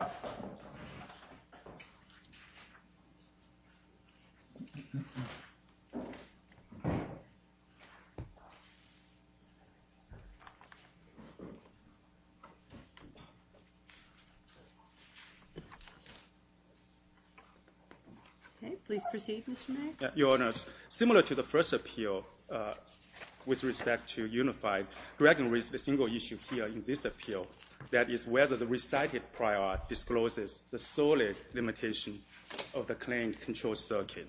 Okay. Please proceed, Mr. Mei. Your Honors, similar to the first appeal with respect to unified, Dragon raised a single issue here in this appeal. That is whether the recited prior discloses the solid limitation of the claimed control circuit.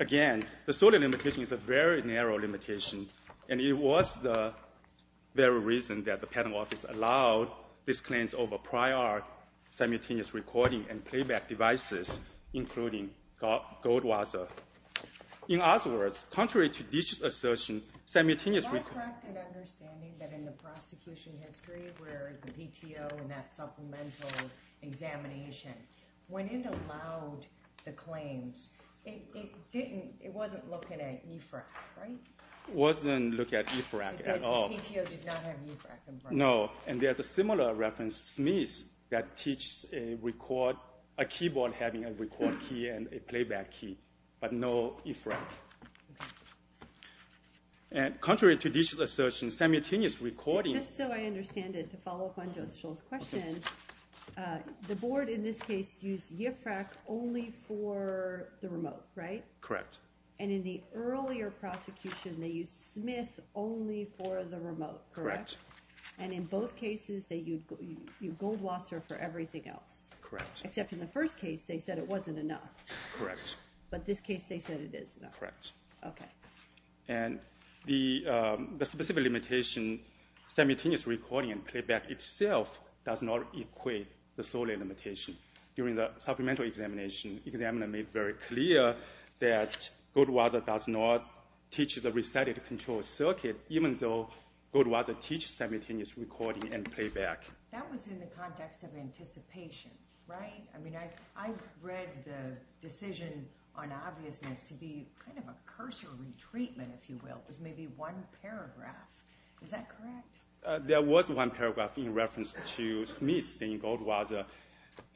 Again, the solid limitation is a very narrow limitation, and it was the very reason that the patent office allowed these claims over prior simultaneous recording and playback devices, including Goldwasser. In other words, contrary to DISH's assertion, simultaneous recording— I have a fact of understanding that in the prosecution history where the PTO and that supplemental examination, when it allowed the claims, it wasn't looking at EFRAC, right? It wasn't looking at EFRAC at all. Because the PTO did not have EFRAC in place. No, and there's a similar reference, Smith, that teaches a keyboard having a record key and a playback key, but no EFRAC. And contrary to DISH's assertion, simultaneous recording— Just so I understand it, to follow up on Judge Scholl's question, the board in this case used EFRAC only for the remote, right? Correct. And in the earlier prosecution, they used Smith only for the remote, correct? Correct. And in both cases, they used Goldwasser for everything else? Correct. Except in the first case, they said it wasn't enough. Correct. But this case, they said it is enough. Correct. Okay. And the specific limitation, simultaneous recording and playback itself does not equate to the solely limitation. During the supplemental examination, the examiner made very clear that Goldwasser does not teach the recited control circuit, even though Goldwasser teaches simultaneous recording and playback. That was in the context of anticipation, right? I mean, I read the decision on obviousness to be kind of a cursory treatment, if you will. It was maybe one paragraph. Is that correct? There was one paragraph in reference to Smith saying Goldwasser,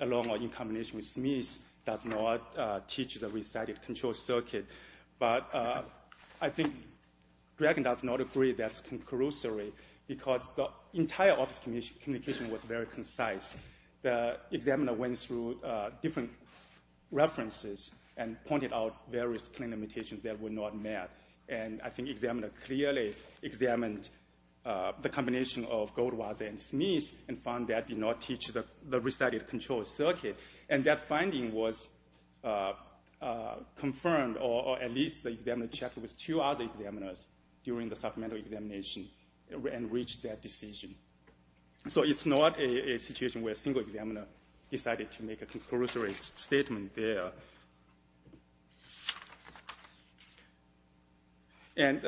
along or in combination with Smith, does not teach the recited control circuit. But I think Dragan does not agree that's concursory because the entire office communication was very concise. The examiner went through different references and pointed out various claim limitations that were not met. And I think the examiner clearly examined the combination of Goldwasser and Smith and found that did not teach the recited control circuit. And that finding was confirmed, or at least the examiner checked with two other examiners during the supplemental examination and reached that decision. So it's not a situation where a single examiner decided to make a concursory statement there. And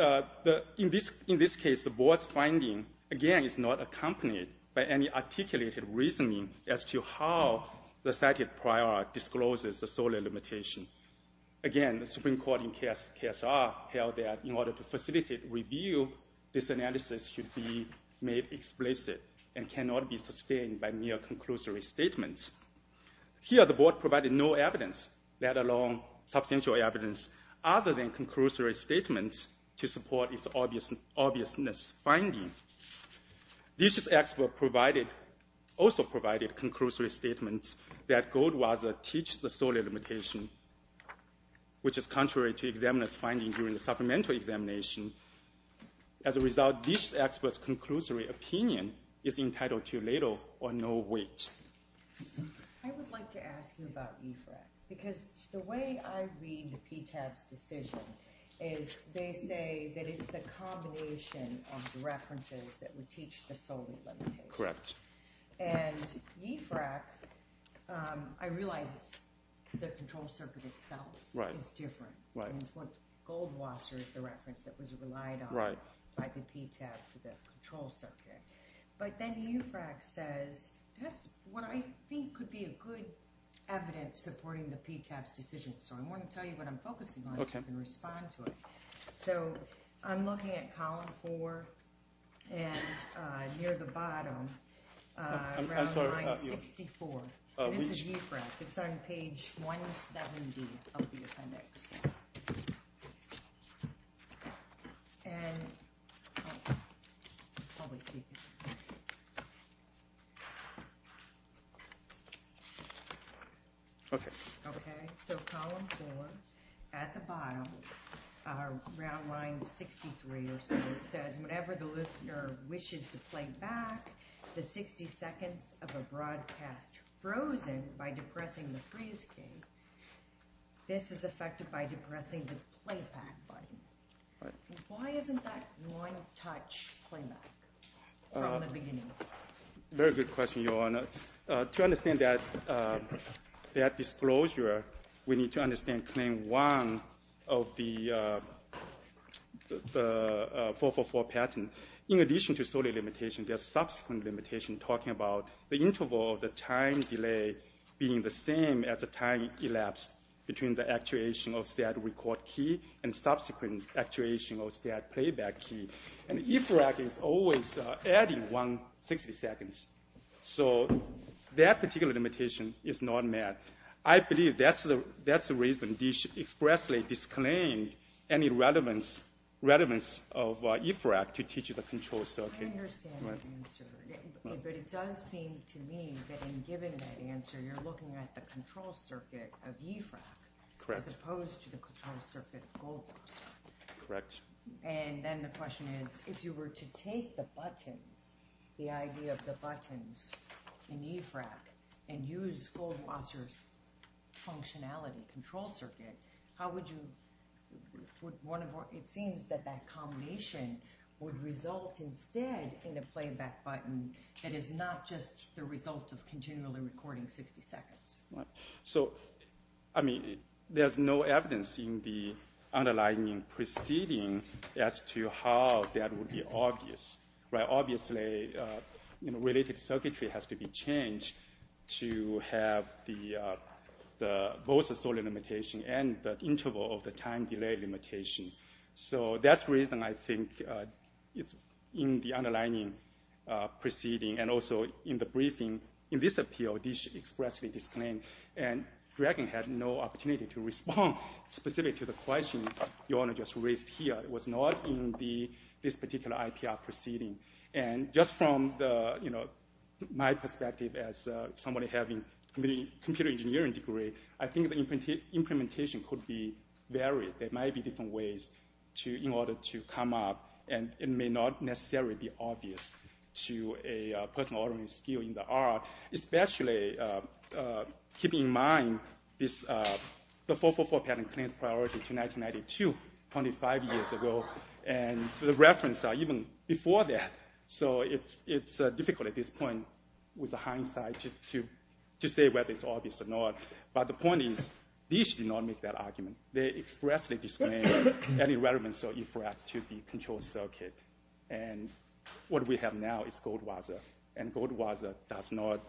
in this case, the board's finding, again, is not accompanied by any articulated reasoning as to how the cited prior discloses the solely limitation. Again, the Supreme Court in KSR held that in order to facilitate review, this analysis should be made explicit and cannot be sustained by mere concursory statements. Here, the board provided no evidence, let alone substantial evidence, other than concursory statements to support its obviousness finding. Dish's expert also provided concursory statements that Goldwasser teach the solely limitation, which is contrary to the examiner's finding during the supplemental examination. As a result, Dish's expert's concursory opinion is entitled to little or no weight. I would like to ask you about IFRAC, because the way I read PTAB's decision is they say that it's the combination of the references that would teach the solely limitation. And IFRAC, I realize the control circuit itself is different. It's what Goldwasser is the reference that was relied on by the PTAB for the control circuit. But then IFRAC says, what I think could be a good evidence supporting the PTAB's decision. So I want to tell you what I'm focusing on so you can respond to it. So I'm looking at column four and near the bottom, around line 64. This is IFRAC. It's on page 170 of the appendix. Okay. Okay. Okay. So column four, at the bottom, around line 63 or so, it says, whenever the listener wishes to play back the 60 seconds of a broadcast frozen by depressing the freeze key, this is affected by depressing the playback button. Why isn't that one touch playback from the beginning? Very good question, Your Honor. To understand that disclosure, we need to understand claim one of the 444 pattern. In addition to solely limitation, there's subsequent limitation talking about the interval of the time delay being the same as the time elapsed between the actuation of said record key and subsequent actuation of said playback key. And IFRAC is always adding one 60 seconds. So that particular limitation is not met. I believe that's the reason they expressly disclaimed any relevance of IFRAC to teach the control circuit. I understand the answer, but it does seem to me that in giving that answer, you're looking at the control circuit of IFRAC as opposed to the control circuit of Goldberg's. Correct. And then the question is, if you were to take the buttons, the idea of the buttons in IFRAC, and use Goldwasser's functionality, control circuit, how would you, it seems that that combination would result instead in a playback button that is not just the result of continually recording 60 seconds. So, I mean, there's no evidence in the underlining proceeding as to how that would be obvious. Obviously, related circuitry has to be changed to have both the solely limitation and the interval of the time delay limitation. So that's the reason I think it's in the underlining proceeding and also in the briefing. In this appeal, they expressly disclaimed, and Dragon had no opportunity to respond specific to the question the owner just raised here. It was not in this particular IPR proceeding. And just from my perspective as somebody having a computer engineering degree, I think the implementation could be varied. There might be different ways in order to come up, and it may not necessarily be obvious to a person already skilled in the art, especially keeping in mind the 444 pattern claims priority to 1992, 25 years ago, and the reference even before that. So it's difficult at this point with the hindsight to say whether it's obvious or not. But the point is, these did not make that argument. They expressly disclaimed any relevance or effect to the control circuit. And what we have now is Goldwasser. And Goldwasser does not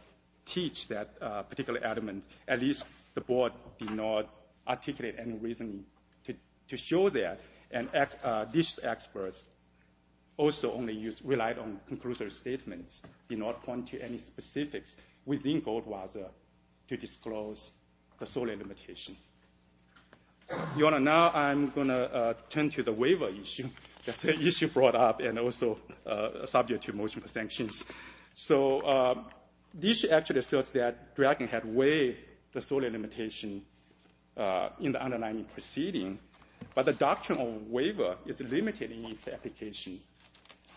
teach that particular element. At least the board did not articulate any reason to show that. And these experts also only relied on conclusory statements, did not point to any specifics within Goldwasser to disclose the solely limitation. Your Honor, now I'm going to turn to the waiver issue. That's an issue brought up and also subject to motion for sanctions. So this actually asserts that Dragon had weighed the solely limitation in the underlying proceeding. But the doctrine of waiver is limited in its application.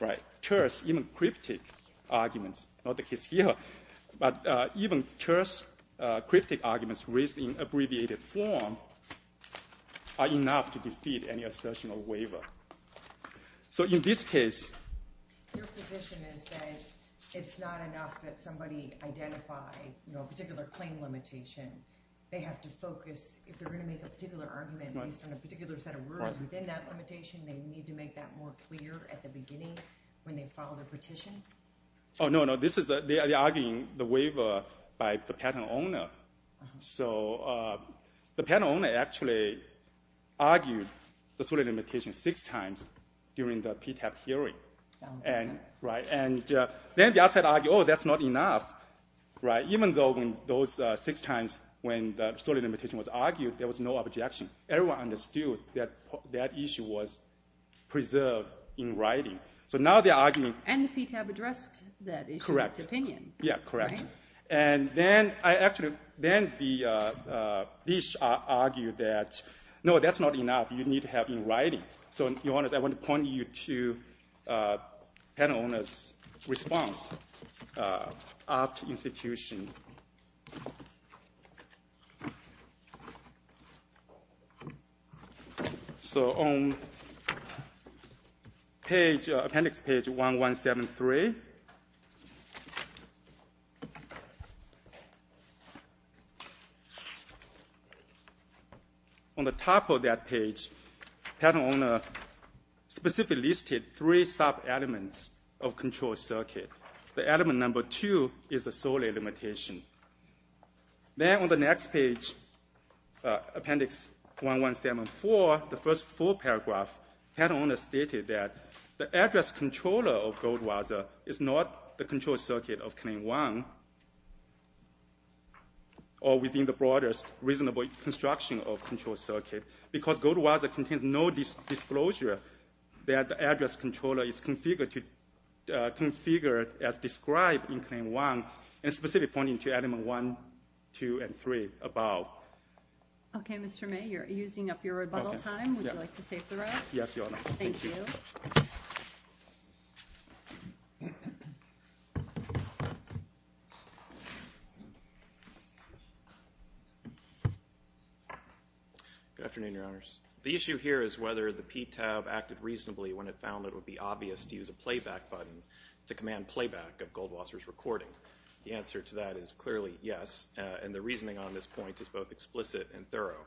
Right. Church, even cryptic arguments, not the case here, but even church cryptic arguments raised in abbreviated form are enough to defeat any assertion of waiver. So in this case. Your position is that it's not enough that somebody identify a particular claim limitation. They have to focus, if they're going to make a particular argument based on a particular set of words within that limitation, they need to make that more clear at the beginning when they file their petition? Oh, no, no. They are arguing the waiver by the patent owner. So the patent owner actually argued the solely limitation six times during the PTAP hearing. And then the outside argued, oh, that's not enough. Even though those six times when the solely limitation was argued, there was no objection. Everyone understood that that issue was preserved in writing. So now they're arguing. And the PTAP addressed that issue. Correct. Its opinion. Yeah, correct. And then I actually then the Bish argued that, no, that's not enough. You need to have it in writing. So I want to point you to patent owner's response after institution. So on page, appendix page 1173. On the top of that page, patent owner specifically listed three sub-elements of control circuit. The element number two is the solely limitation. Then on the next page, appendix 1174, the first full paragraph, patent owner stated that the address controller of Goldwasser is not the control circuit of claim one or within the broadest reasonable construction of control circuit because Goldwasser contains no disclosure that the address controller is configured as described in claim one and specifically pointing to element one, two, and three above. Okay, Mr. May, you're using up your rebuttal time. Would you like to save the rest? Yes, Your Honor. Thank you. Good afternoon, Your Honors. The issue here is whether the PTAP acted reasonably when it found it would be obvious to use a playback button to command playback of Goldwasser's recording. The answer to that is clearly yes, and the reasoning on this point is both explicit and thorough.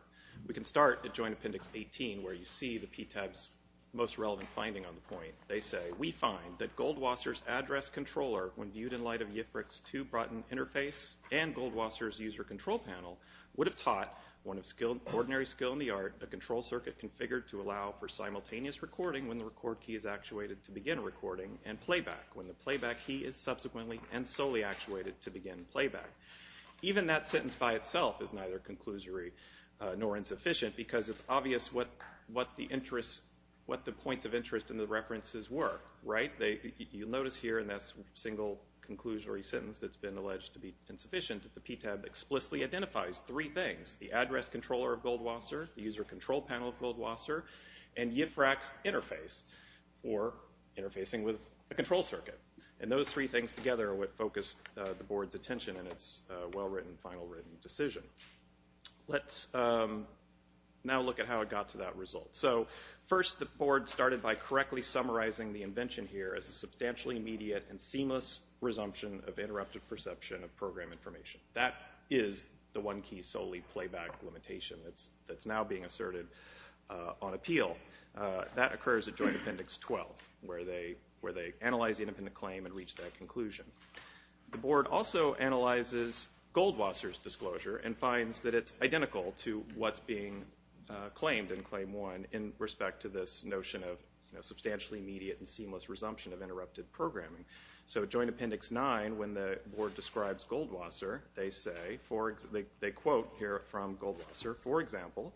We can start at joint appendix 18 where you see the PTAP's most relevant finding on the point. They say, we find that Goldwasser's address controller, when viewed in light of YIFRC's too broad an interface and Goldwasser's user control panel, would have taught, one of ordinary skill in the art, a control circuit configured to allow for simultaneous recording when the record key is actuated to begin recording and playback when the playback key is subsequently and solely actuated to begin playback. Even that sentence by itself is neither conclusory nor insufficient because it's obvious what the points of interest in the references were, right? You'll notice here in that single conclusory sentence that's been alleged to be insufficient that the PTAP explicitly identifies three things, the address controller of Goldwasser, the user control panel of Goldwasser, and YIFRC's interface for interfacing with a control circuit. And those three things together are what focused the board's attention in its well-written, final-written decision. Let's now look at how it got to that result. So, first the board started by correctly summarizing the invention here as a substantially immediate and seamless resumption of interrupted perception of program information. That is the one key solely playback limitation that's now being asserted on appeal. That occurs at Joint Appendix 12, where they analyze the independent claim and reach that conclusion. The board also analyzes Goldwasser's disclosure and finds that it's identical to what's being claimed in Claim 1 in respect to this notion of substantially immediate and seamless resumption of interrupted programming. So, Joint Appendix 9, when the board describes Goldwasser, they quote here from Goldwasser, for example,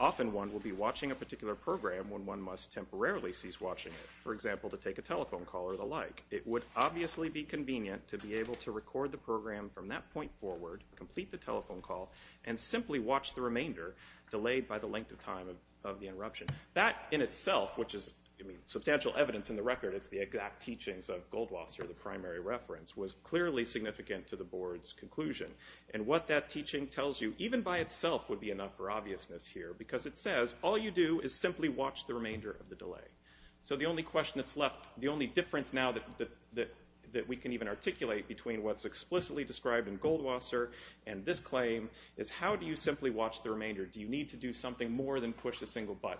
often one will be watching a particular program when one must temporarily cease watching it, for example, to take a telephone call or the like. It would obviously be convenient to be able to record the program from that point forward, complete the telephone call, and simply watch the remainder delayed by the length of time of the interruption. That in itself, which is substantial evidence in the record, it's the exact teachings of Goldwasser, the primary reference, was clearly significant to the board's conclusion. And what that teaching tells you, even by itself, would be enough for obviousness here, because it says all you do is simply watch the remainder of the delay. So, the only question that's left, the only difference now that we can even articulate between what's explicitly described in Goldwasser and this claim, is how do you simply watch the remainder? Do you need to do something more than push a single button?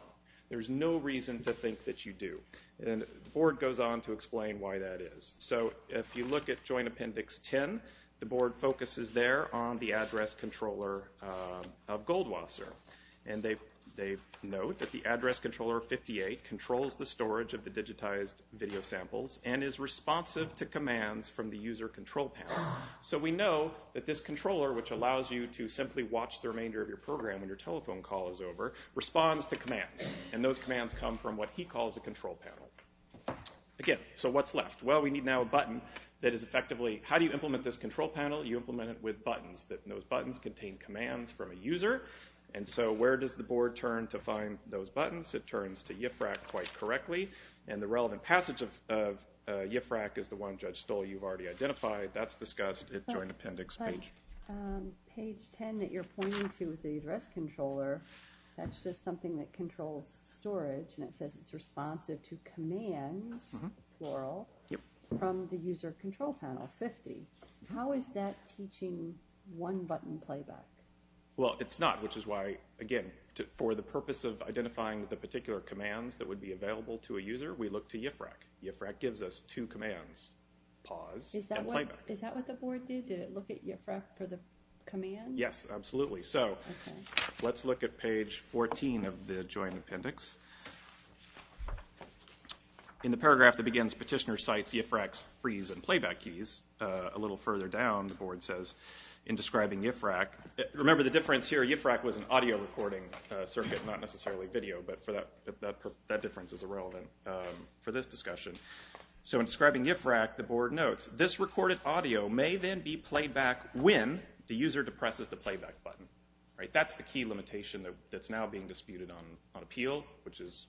There's no reason to think that you do. And the board goes on to explain why that is. So, if you look at Joint Appendix 10, the board focuses there on the address controller of Goldwasser. And they note that the address controller of 58 controls the storage of the digitized video samples and is responsive to commands from the user control panel. So, we know that this controller, which allows you to simply watch the remainder of your program when your telephone call is over, responds to commands. And those commands come from what he calls a control panel. Again, so what's left? Well, we need now a button that is effectively, how do you implement this control panel? You implement it with buttons. Those buttons contain commands from a user. And so, where does the board turn to find those buttons? It turns to IFRAC quite correctly. And the relevant passage of IFRAC is the one Judge Stoll, you've already identified. That's discussed at Joint Appendix page. Page 10 that you're pointing to is the address controller. That's just something that controls storage. And it says it's responsive to commands, plural, from the user control panel, 50. How is that teaching one-button playback? Well, it's not, which is why, again, for the purpose of identifying the particular commands that would be available to a user, we look to IFRAC. IFRAC gives us two commands, pause and playback. Is that what the board did? Did it look at IFRAC for the commands? Yes, absolutely. So let's look at page 14 of the Joint Appendix. In the paragraph that begins, Petitioner cites IFRAC's freeze and playback keys. A little further down, the board says, in describing IFRAC, remember the difference here, IFRAC was an audio recording circuit, not necessarily video, but that difference is irrelevant for this discussion. So in describing IFRAC, the board notes, this recorded audio may then be played back when the user depresses the playback button. That's the key limitation that's now being disputed on appeal, which is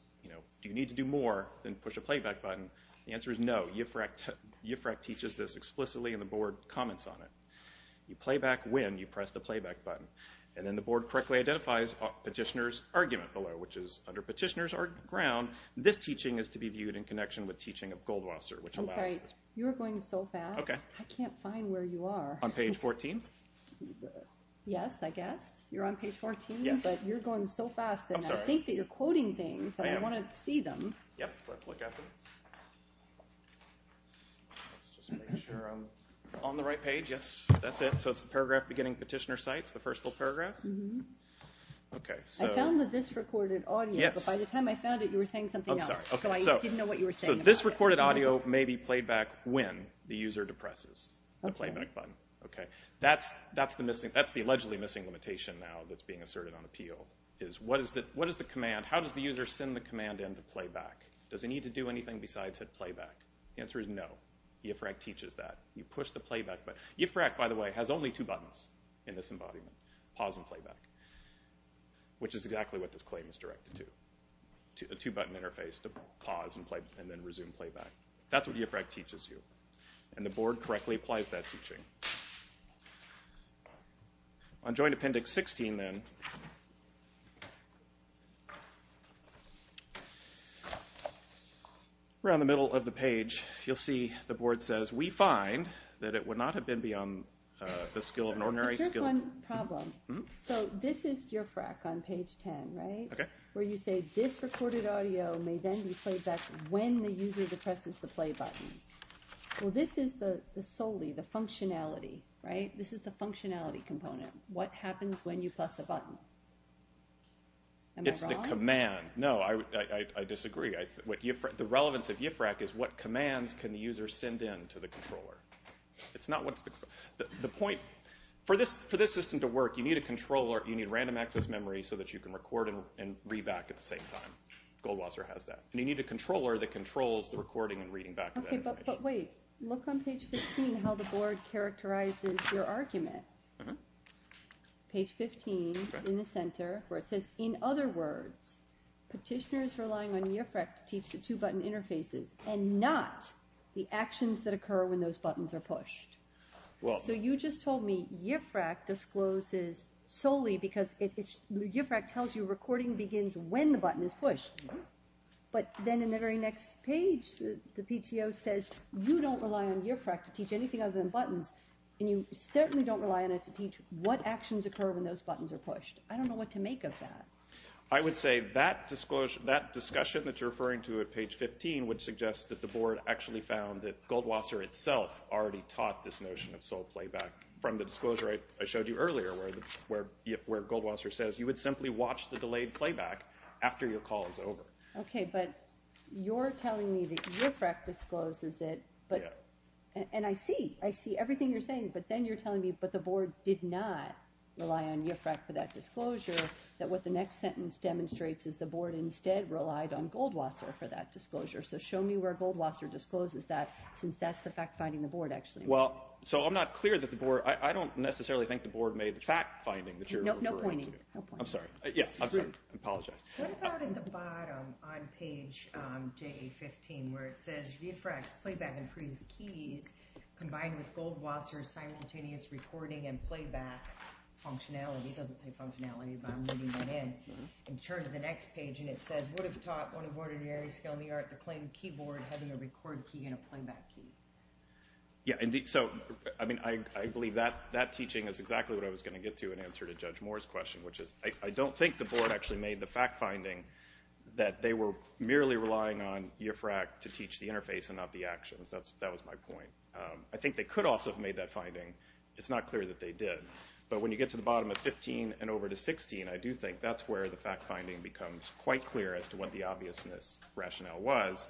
do you need to do more than push a playback button? The answer is no. IFRAC teaches this explicitly, and the board comments on it. You play back when you press the playback button. And then the board correctly identifies Petitioner's argument below, which is under Petitioner's ground, this teaching is to be viewed in connection with teaching of Goldwasser, which allows this. You're going so fast, I can't find where you are. On page 14? Yes, I guess. You're on page 14, but you're going so fast, and I think that you're quoting things, and I want to see them. Yep, let's look at them. Let's just make sure I'm on the right page. Yes, that's it. So it's the paragraph beginning Petitioner cites, the first full paragraph? I found this recorded audio, but by the time I found it, you were saying something else. So I didn't know what you were saying. So this recorded audio may be played back when the user depresses the playback button. That's the allegedly missing limitation now that's being asserted on appeal, is how does the user send the command in to play back? Does it need to do anything besides hit playback? The answer is no. IFRAC teaches that. You push the playback button. IFRAC, by the way, has only two buttons in this embodiment, pause and playback, which is exactly what this claim is directed to, a two-button interface to pause and then resume playback. That's what IFRAC teaches you, and the board correctly applies that teaching. On joint appendix 16, then, around the middle of the page, you'll see the board says, we find that it would not have been beyond the skill of an ordinary skilled. Here's one problem. So this is IFRAC on page 10, right? Okay. Where you say this recorded audio may then be played back when the user depresses the play button. Well, this is solely the functionality, right? This is the functionality component. What happens when you press a button? Am I wrong? It's the command. No, I disagree. The relevance of IFRAC is what commands can the user send in to the controller. It's not what's the point. For this system to work, you need a controller. You need random access memory so that you can record and read back at the same time. Goldwasser has that. And you need a controller that controls the recording and reading back. Okay, but wait. Look on page 15 how the board characterizes your argument. Page 15 in the center where it says, In other words, petitioners relying on IFRAC to teach the two-button interfaces and not the actions that occur when those buttons are pushed. So you just told me IFRAC discloses solely because IFRAC tells you recording begins when the button is pushed. But then in the very next page, the PTO says you don't rely on IFRAC to teach anything other than buttons, and you certainly don't rely on it to teach what actions occur when those buttons are pushed. I don't know what to make of that. I would say that discussion that you're referring to at page 15 would suggest that the board actually found that Goldwasser itself already taught this notion of sole playback from the disclosure I showed you earlier where Goldwasser says you would simply watch the delayed playback after your call is over. Okay, but you're telling me that IFRAC discloses it, and I see everything you're saying, but then you're telling me, but the board did not rely on IFRAC for that disclosure, that what the next sentence demonstrates is the board instead relied on Goldwasser for that disclosure. So show me where Goldwasser discloses that since that's the fact-finding the board actually. Well, so I'm not clear that the board, I don't necessarily think the board made the fact-finding that you're referring to. No pointing. I'm sorry. Yes, I'm sorry. I apologize. What about in the bottom on page 15 where it says, IFRAC's playback and freeze keys combined with Goldwasser's simultaneous recording and playback functionality, it doesn't say functionality, but I'm reading that in, in terms of the next page, and it says, would have taught one of ordinary skill in the art to claim keyboard having a record key and a playback key. Yeah, so I believe that teaching is exactly what I was going to get to in answer to Judge Moore's question, which is I don't think the board actually made the fact-finding that they were merely relying on IFRAC to teach the interface and not the actions. That was my point. I think they could also have made that finding. It's not clear that they did. But when you get to the bottom of 15 and over to 16, I do think that's where the fact-finding becomes quite clear as to what the obviousness rationale was.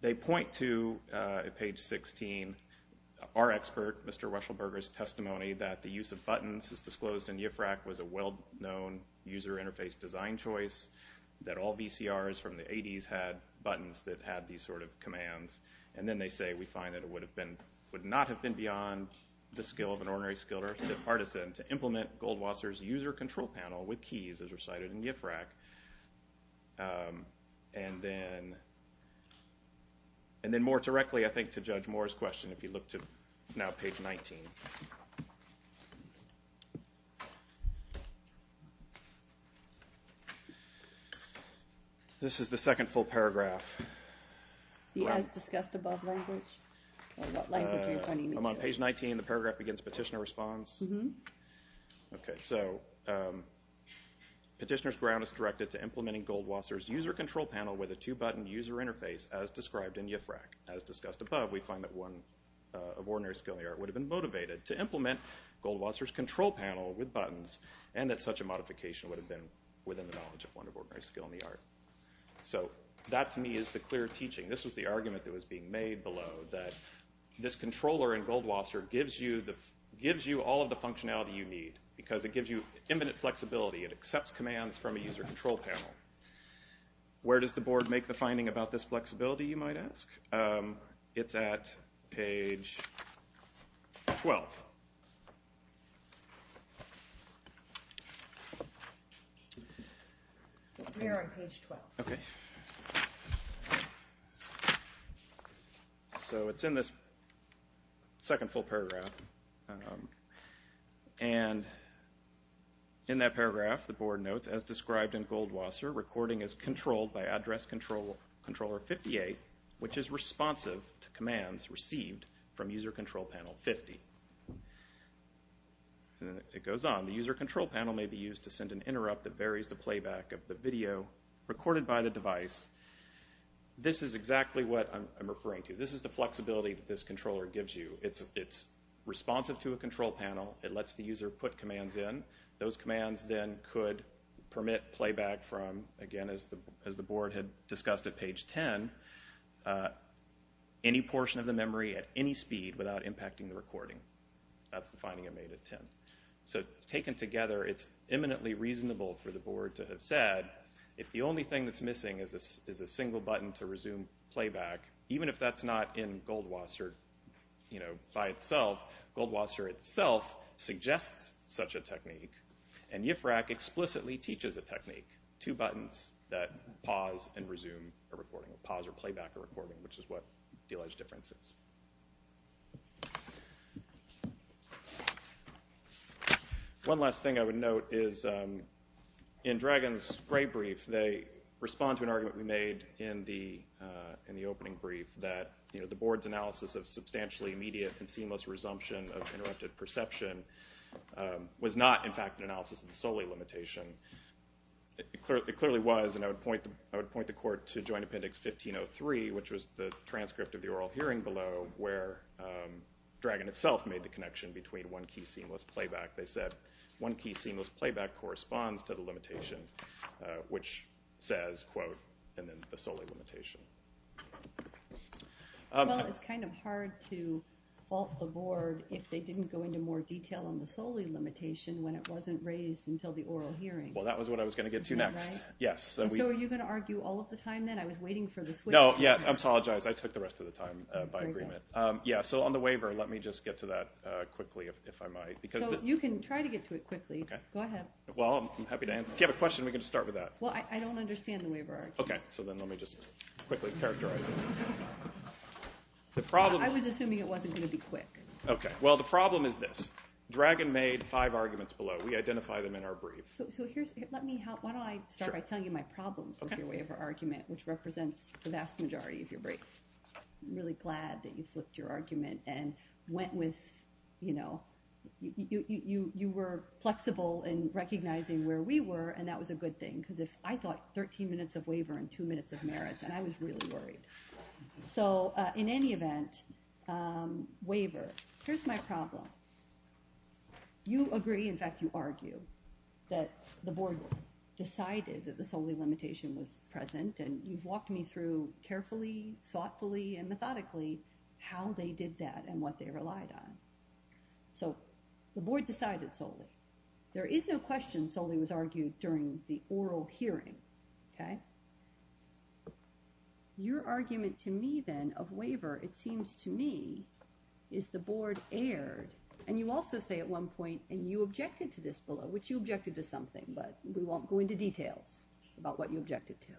They point to, at page 16, our expert, Mr. Reschelberger's, testimony that the use of buttons as disclosed in IFRAC was a well-known user interface design choice, that all VCRs from the 80s had buttons that had these sort of commands. And then they say we find that it would have been, would not have been beyond the skill of an ordinary skilled artisan to implement Goldwasser's user control panel with keys as recited in IFRAC. And then more directly, I think, to Judge Moore's question, if you look to now page 19. This is the second full paragraph. As discussed above language? What language are you pointing me to? I'm on page 19, the paragraph against petitioner response. Okay, so petitioner's ground is directed to implementing Goldwasser's user control panel with a two-button user interface as described in IFRAC. As discussed above, we find that one of ordinary skill in the art would have been motivated to implement Goldwasser's control panel with buttons, and that such a modification would have been within the knowledge of one of ordinary skill in the art. So that, to me, is the clear teaching. This was the argument that was being made below, that this controller in Goldwasser gives you all of the functionality you need because it gives you imminent flexibility. It accepts commands from a user control panel. Where does the board make the finding about this flexibility, you might ask? It's at page 12. We are on page 12. Okay. So it's in this second full paragraph. And in that paragraph, the board notes, as described in Goldwasser, recording is controlled by address controller 58, which is responsive to commands received from user control panel 50. It goes on. The user control panel may be used to send an interrupt that varies the playback of the video recorded by the device. This is exactly what I'm referring to. This is the flexibility that this controller gives you. It's responsive to a control panel. It lets the user put commands in. Those commands then could permit playback from, again, as the board had discussed at page 10, any portion of the memory at any speed without impacting the recording. That's the finding I made at 10. So taken together, it's eminently reasonable for the board to have said, if the only thing that's missing is a single button to resume playback, even if that's not in Goldwasser by itself, Goldwasser itself suggests such a technique, and UFRAC explicitly teaches a technique, two buttons that pause and resume a recording, which is what the alleged difference is. One last thing I would note is in Dragon's gray brief, they respond to an argument we made in the opening brief that the board's analysis of substantially immediate and seamless resumption of interrupted perception was not, in fact, an analysis of solely limitation. It clearly was, and I would point the court to Joint Appendix 1503, which was the transcript of the oral hearing below, where Dragon itself made the connection between one key seamless playback. They said one key seamless playback corresponds to the limitation, which says, quote, and then the solely limitation. Well, it's kind of hard to fault the board if they didn't go into more detail on the solely limitation when it wasn't raised until the oral hearing. Well, that was what I was going to get to next. So are you going to argue all of the time then? I was waiting for the switch. No, yes, I apologize. I took the rest of the time by agreement. Yeah, so on the waiver, let me just get to that quickly if I might. So you can try to get to it quickly. Go ahead. Well, I'm happy to answer. If you have a question, we can just start with that. Well, I don't understand the waiver argument. Okay, so then let me just quickly characterize it. I was assuming it wasn't going to be quick. Okay, well, the problem is this. Dragon made five arguments below. We identify them in our brief. So let me help. Why don't I start by telling you my problems with your waiver argument, which represents the vast majority of your brief. I'm really glad that you flipped your argument and went with, you know, you were flexible in recognizing where we were, and that was a good thing, because I thought 13 minutes of waiver and two minutes of merits, and I was really worried. So in any event, waiver, here's my problem. You agree, in fact, you argue, that the board decided that the solely limitation was present, and you've walked me through carefully, thoughtfully, and methodically, how they did that and what they relied on. So the board decided solely. There is no question solely was argued during the oral hearing, okay? Your argument to me, then, of waiver, it seems to me, is the board erred, and you also say at one point, and you objected to this below, which you objected to something, but we won't go into details about what you objected to.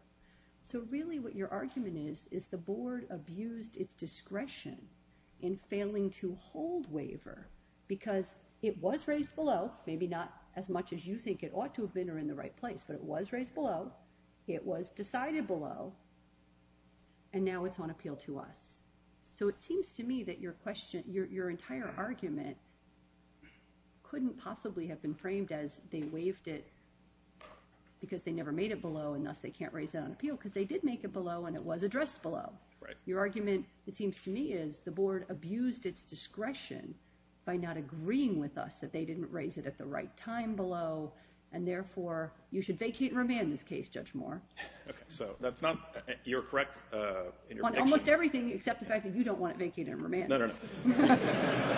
So really what your argument is is the board abused its discretion in failing to hold waiver because it was raised below, maybe not as much as you think it ought to have been or in the right place, but it was raised below, it was decided below, and now it's on appeal to us. So it seems to me that your question, your entire argument, couldn't possibly have been framed as they waived it because they never made it below, and thus they can't raise it on appeal, because they did make it below, and it was addressed below. Your argument, it seems to me, is the board abused its discretion by not agreeing with us that they didn't raise it at the right time below, and therefore, you should vacate and remand this case, Judge Moore. Okay, so that's not, you're correct in your prediction? I'm correct in almost everything except the fact that you don't want it vacated and remanded. No, no, no.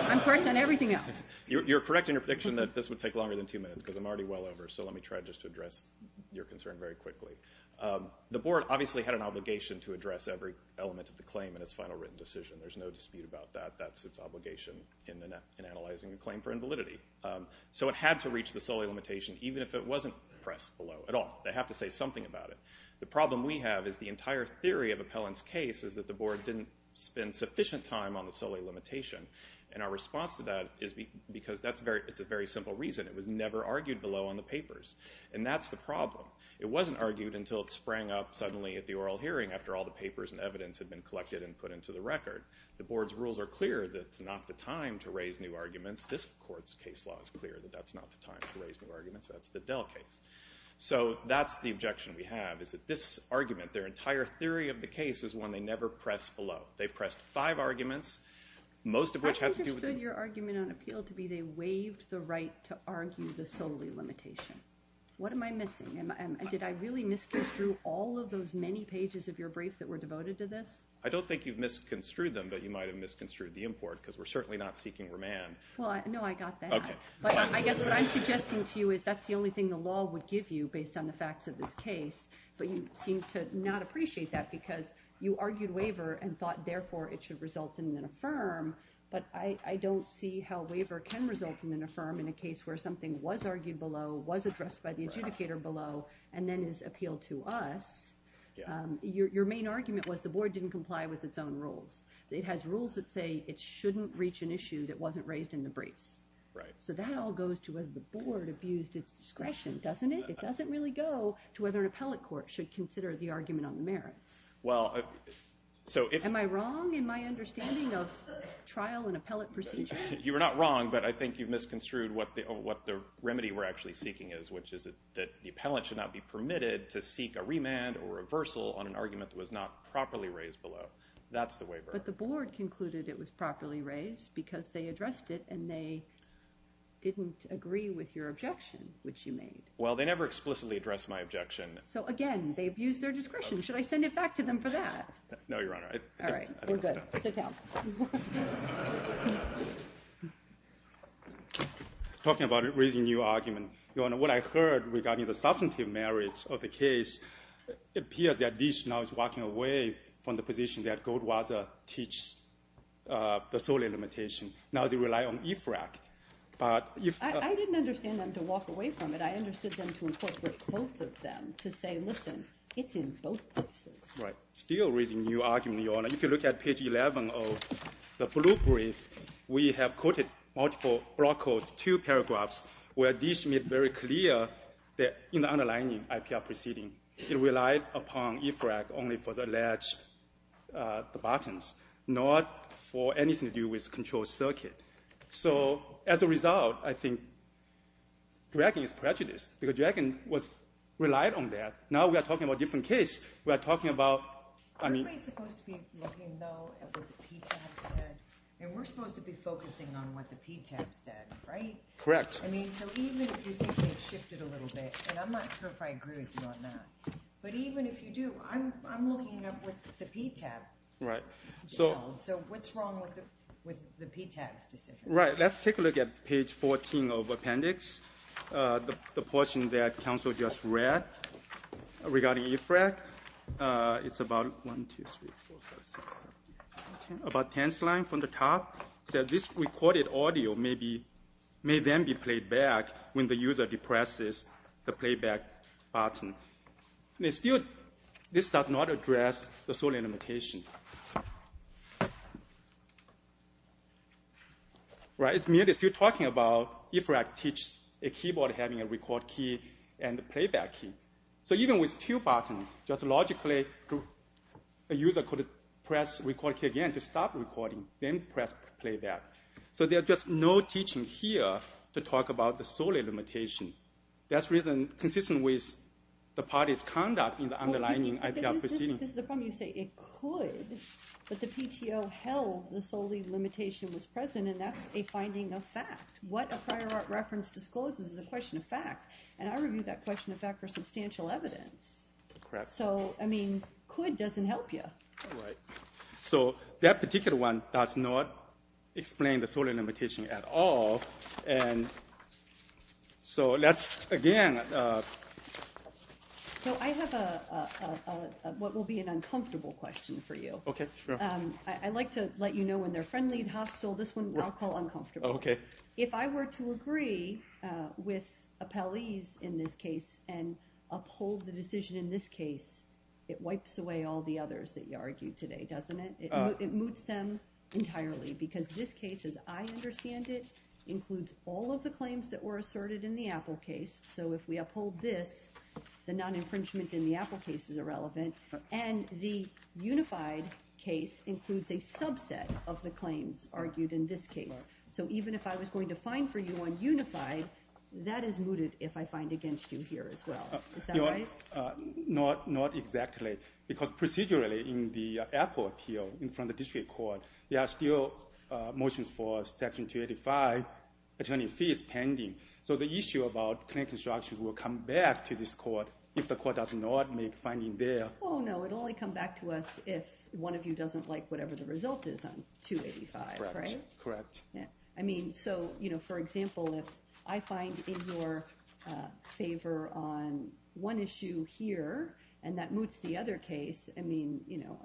I'm correct in everything else. You're correct in your prediction that this would take longer than two minutes because I'm already well over, so let me try just to address your concern very quickly. The board obviously had an obligation to address every element of the claim in its final written decision. There's no dispute about that. That's its obligation in analyzing a claim for invalidity. So it had to reach the solely limitation even if it wasn't pressed below at all. They have to say something about it. The problem we have is the entire theory of Appellant's case is that the board didn't spend sufficient time on the solely limitation, and our response to that is because it's a very simple reason. It was never argued below on the papers, and that's the problem. It wasn't argued until it sprang up suddenly at the oral hearing after all the papers and evidence had been collected and put into the record. The board's rules are clear that it's not the time to raise new arguments. This court's case law is clear that that's not the time to raise new arguments. That's the Dell case. So that's the objection we have is that this argument, their entire theory of the case is one they never press below. They pressed five arguments, most of which have to do with the- I understood your argument on appeal to be they waived the right to argue the solely limitation. What am I missing? Did I really misconstrue all of those many pages of your brief that were devoted to this? I don't think you've misconstrued them, but you might have misconstrued the import because we're certainly not seeking remand. Well, no, I got that. But I guess what I'm suggesting to you is that's the only thing the law would give you based on the facts of this case, but you seem to not appreciate that because you argued waiver and thought therefore it should result in an affirm, but I don't see how waiver can result in an affirm in a case where something was argued below, was addressed by the adjudicator below, and then is appealed to us. Your main argument was the board didn't comply with its own rules. It has rules that say it shouldn't reach an issue that wasn't raised in the briefs. So that all goes to whether the board abused its discretion, doesn't it? It doesn't really go to whether an appellate court should consider the argument on the merits. Am I wrong in my understanding of trial and appellate procedure? You are not wrong, but I think you've misconstrued what the remedy we're actually seeking is, which is that the appellant should not be permitted to seek a remand or a reversal on an argument that was not properly raised below. That's the waiver. But the board concluded it was properly raised because they addressed it and they didn't agree with your objection, which you made. Well, they never explicitly addressed my objection. So, again, they abused their discretion. Should I send it back to them for that? No, Your Honor. All right, we're good. Sit down. Talking about raising new argument, Your Honor, what I heard regarding the substantive merits of the case appears that Dish now is walking away from the position that Goldwasser teaches the sole limitation. Now they rely on IFRAC. But if the ---- I didn't understand them to walk away from it. I understood them to incorporate both of them to say, listen, it's in both places. Right. Still raising new argument, Your Honor. If you look at page 11 of the blue brief, we have quoted multiple broad quotes, two paragraphs where Dish made very clear that in the underlining IPR proceeding, it relied upon IFRAC only for the latch buttons, not for anything to do with control circuit. So, as a result, I think Dragon is prejudiced because Dragon relied on that. Now we are talking about a different case. We are talking about ---- Aren't we supposed to be looking, though, at what the PTAB said? And we're supposed to be focusing on what the PTAB said, right? Correct. I mean, so even if you think they've shifted a little bit, and I'm not sure if I agree with you on that, but even if you do, I'm looking up with the PTAB. Right. So what's wrong with the PTAB's decision? Right. Let's take a look at page 14 of appendix, the portion that counsel just read regarding IFRAC. It's about 1, 2, 3, 4, 5, 6, 7, 8, 9, 10. About 10th line from the top says, This recorded audio may then be played back when the user depresses the playback button. This does not address the sole limitation. It's merely still talking about IFRAC teach a keyboard having a record key and a playback key. So even with two buttons, just logically a user could press record key again to stop recording, then press playback. So there's just no teaching here to talk about the sole limitation. That's consistent with the party's conduct in the underlying IPR proceeding. This is the problem. You say it could, but the PTO held the sole limitation was present, and that's a finding of fact. What a prior reference discloses is a question of fact. And I reviewed that question of fact for substantial evidence. So, I mean, could doesn't help you. So that particular one does not explain the sole limitation at all. And so that's, again... So I have what will be an uncomfortable question for you. Okay, sure. I like to let you know when they're friendly and hostile. This one I'll call uncomfortable. Okay. If I were to agree with Appelese in this case and uphold the decision in this case, it wipes away all the others that you argued today, doesn't it? It moots them entirely because this case, as I understand it, includes all of the claims that were asserted in the Apple case. So if we uphold this, the non-infringement in the Apple case is irrelevant, and the unified case includes a subset of the claims argued in this case. So even if I was going to fine for you on unified, that is mooted if I fine against you here as well. Is that right? Not exactly. Because procedurally in the Apple appeal in front of the district court, there are still motions for Section 285 attorney fees pending. So the issue about claim construction will come back to this court if the court does not make finding there. Oh, no, it will only come back to us if one of you doesn't like whatever the result is on 285, right? Correct. I mean, so, you know, for example, if I find in your favor on one issue here and that moots the other case, I mean, you know,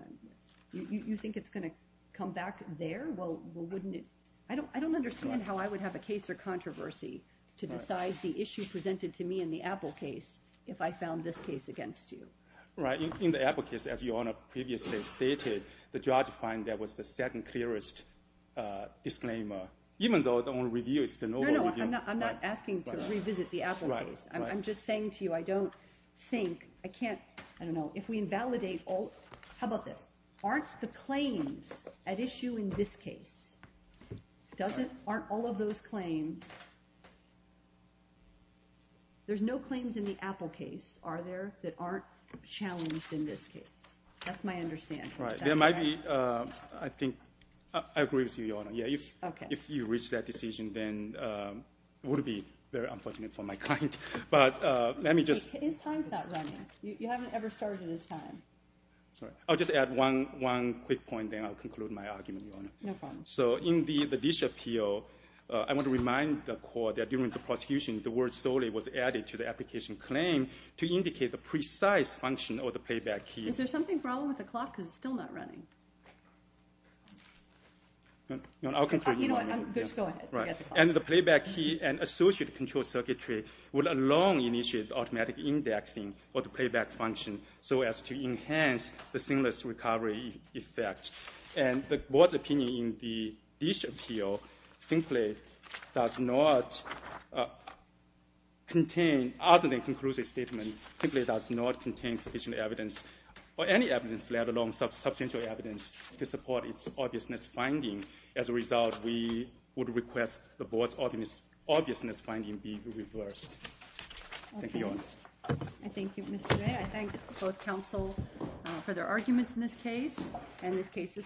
you think it's going to come back there? Well, wouldn't it? I don't understand how I would have a case or controversy to decide the issue presented to me in the Apple case if I found this case against you. Right. In the Apple case, as Your Honor previously stated, the judge find that was the second clearest disclaimer, even though the only review is the Nobel review. No, no, I'm not asking to revisit the Apple case. Right, right. I'm just saying to you I don't think, I can't, I don't know, if we invalidate all, how about this? Aren't the claims at issue in this case, aren't all of those claims, there's no claims in the Apple case, are there, that aren't challenged in this case? That's my understanding. Right. There might be, I think, I agree with you, Your Honor. Okay. If you reach that decision, then it would be very unfortunate for my client. But let me just. His time's not running. You haven't ever started his time. Sorry. I'll just add one quick point, then I'll conclude my argument, Your Honor. No problem. So in the dish appeal, I want to remind the court that during the prosecution, the word solely was added to the application claim to indicate the precise function of the playback key. Is there something wrong with the clock? Because it's still not running. I'll conclude my argument. Just go ahead. Right. And the playback key and associated control circuitry would alone initiate automatic indexing for the playback function so as to enhance the seamless recovery effect. And the board's opinion in the dish appeal simply does not contain, other than concludes a statement, simply does not contain sufficient evidence or any evidence, let alone substantial evidence to support its obviousness finding. As a result, we would request the board's obviousness finding be reversed. Thank you, Your Honor. I thank you, Mr. J. I thank both counsel for their arguments in this case, and this case is submitted.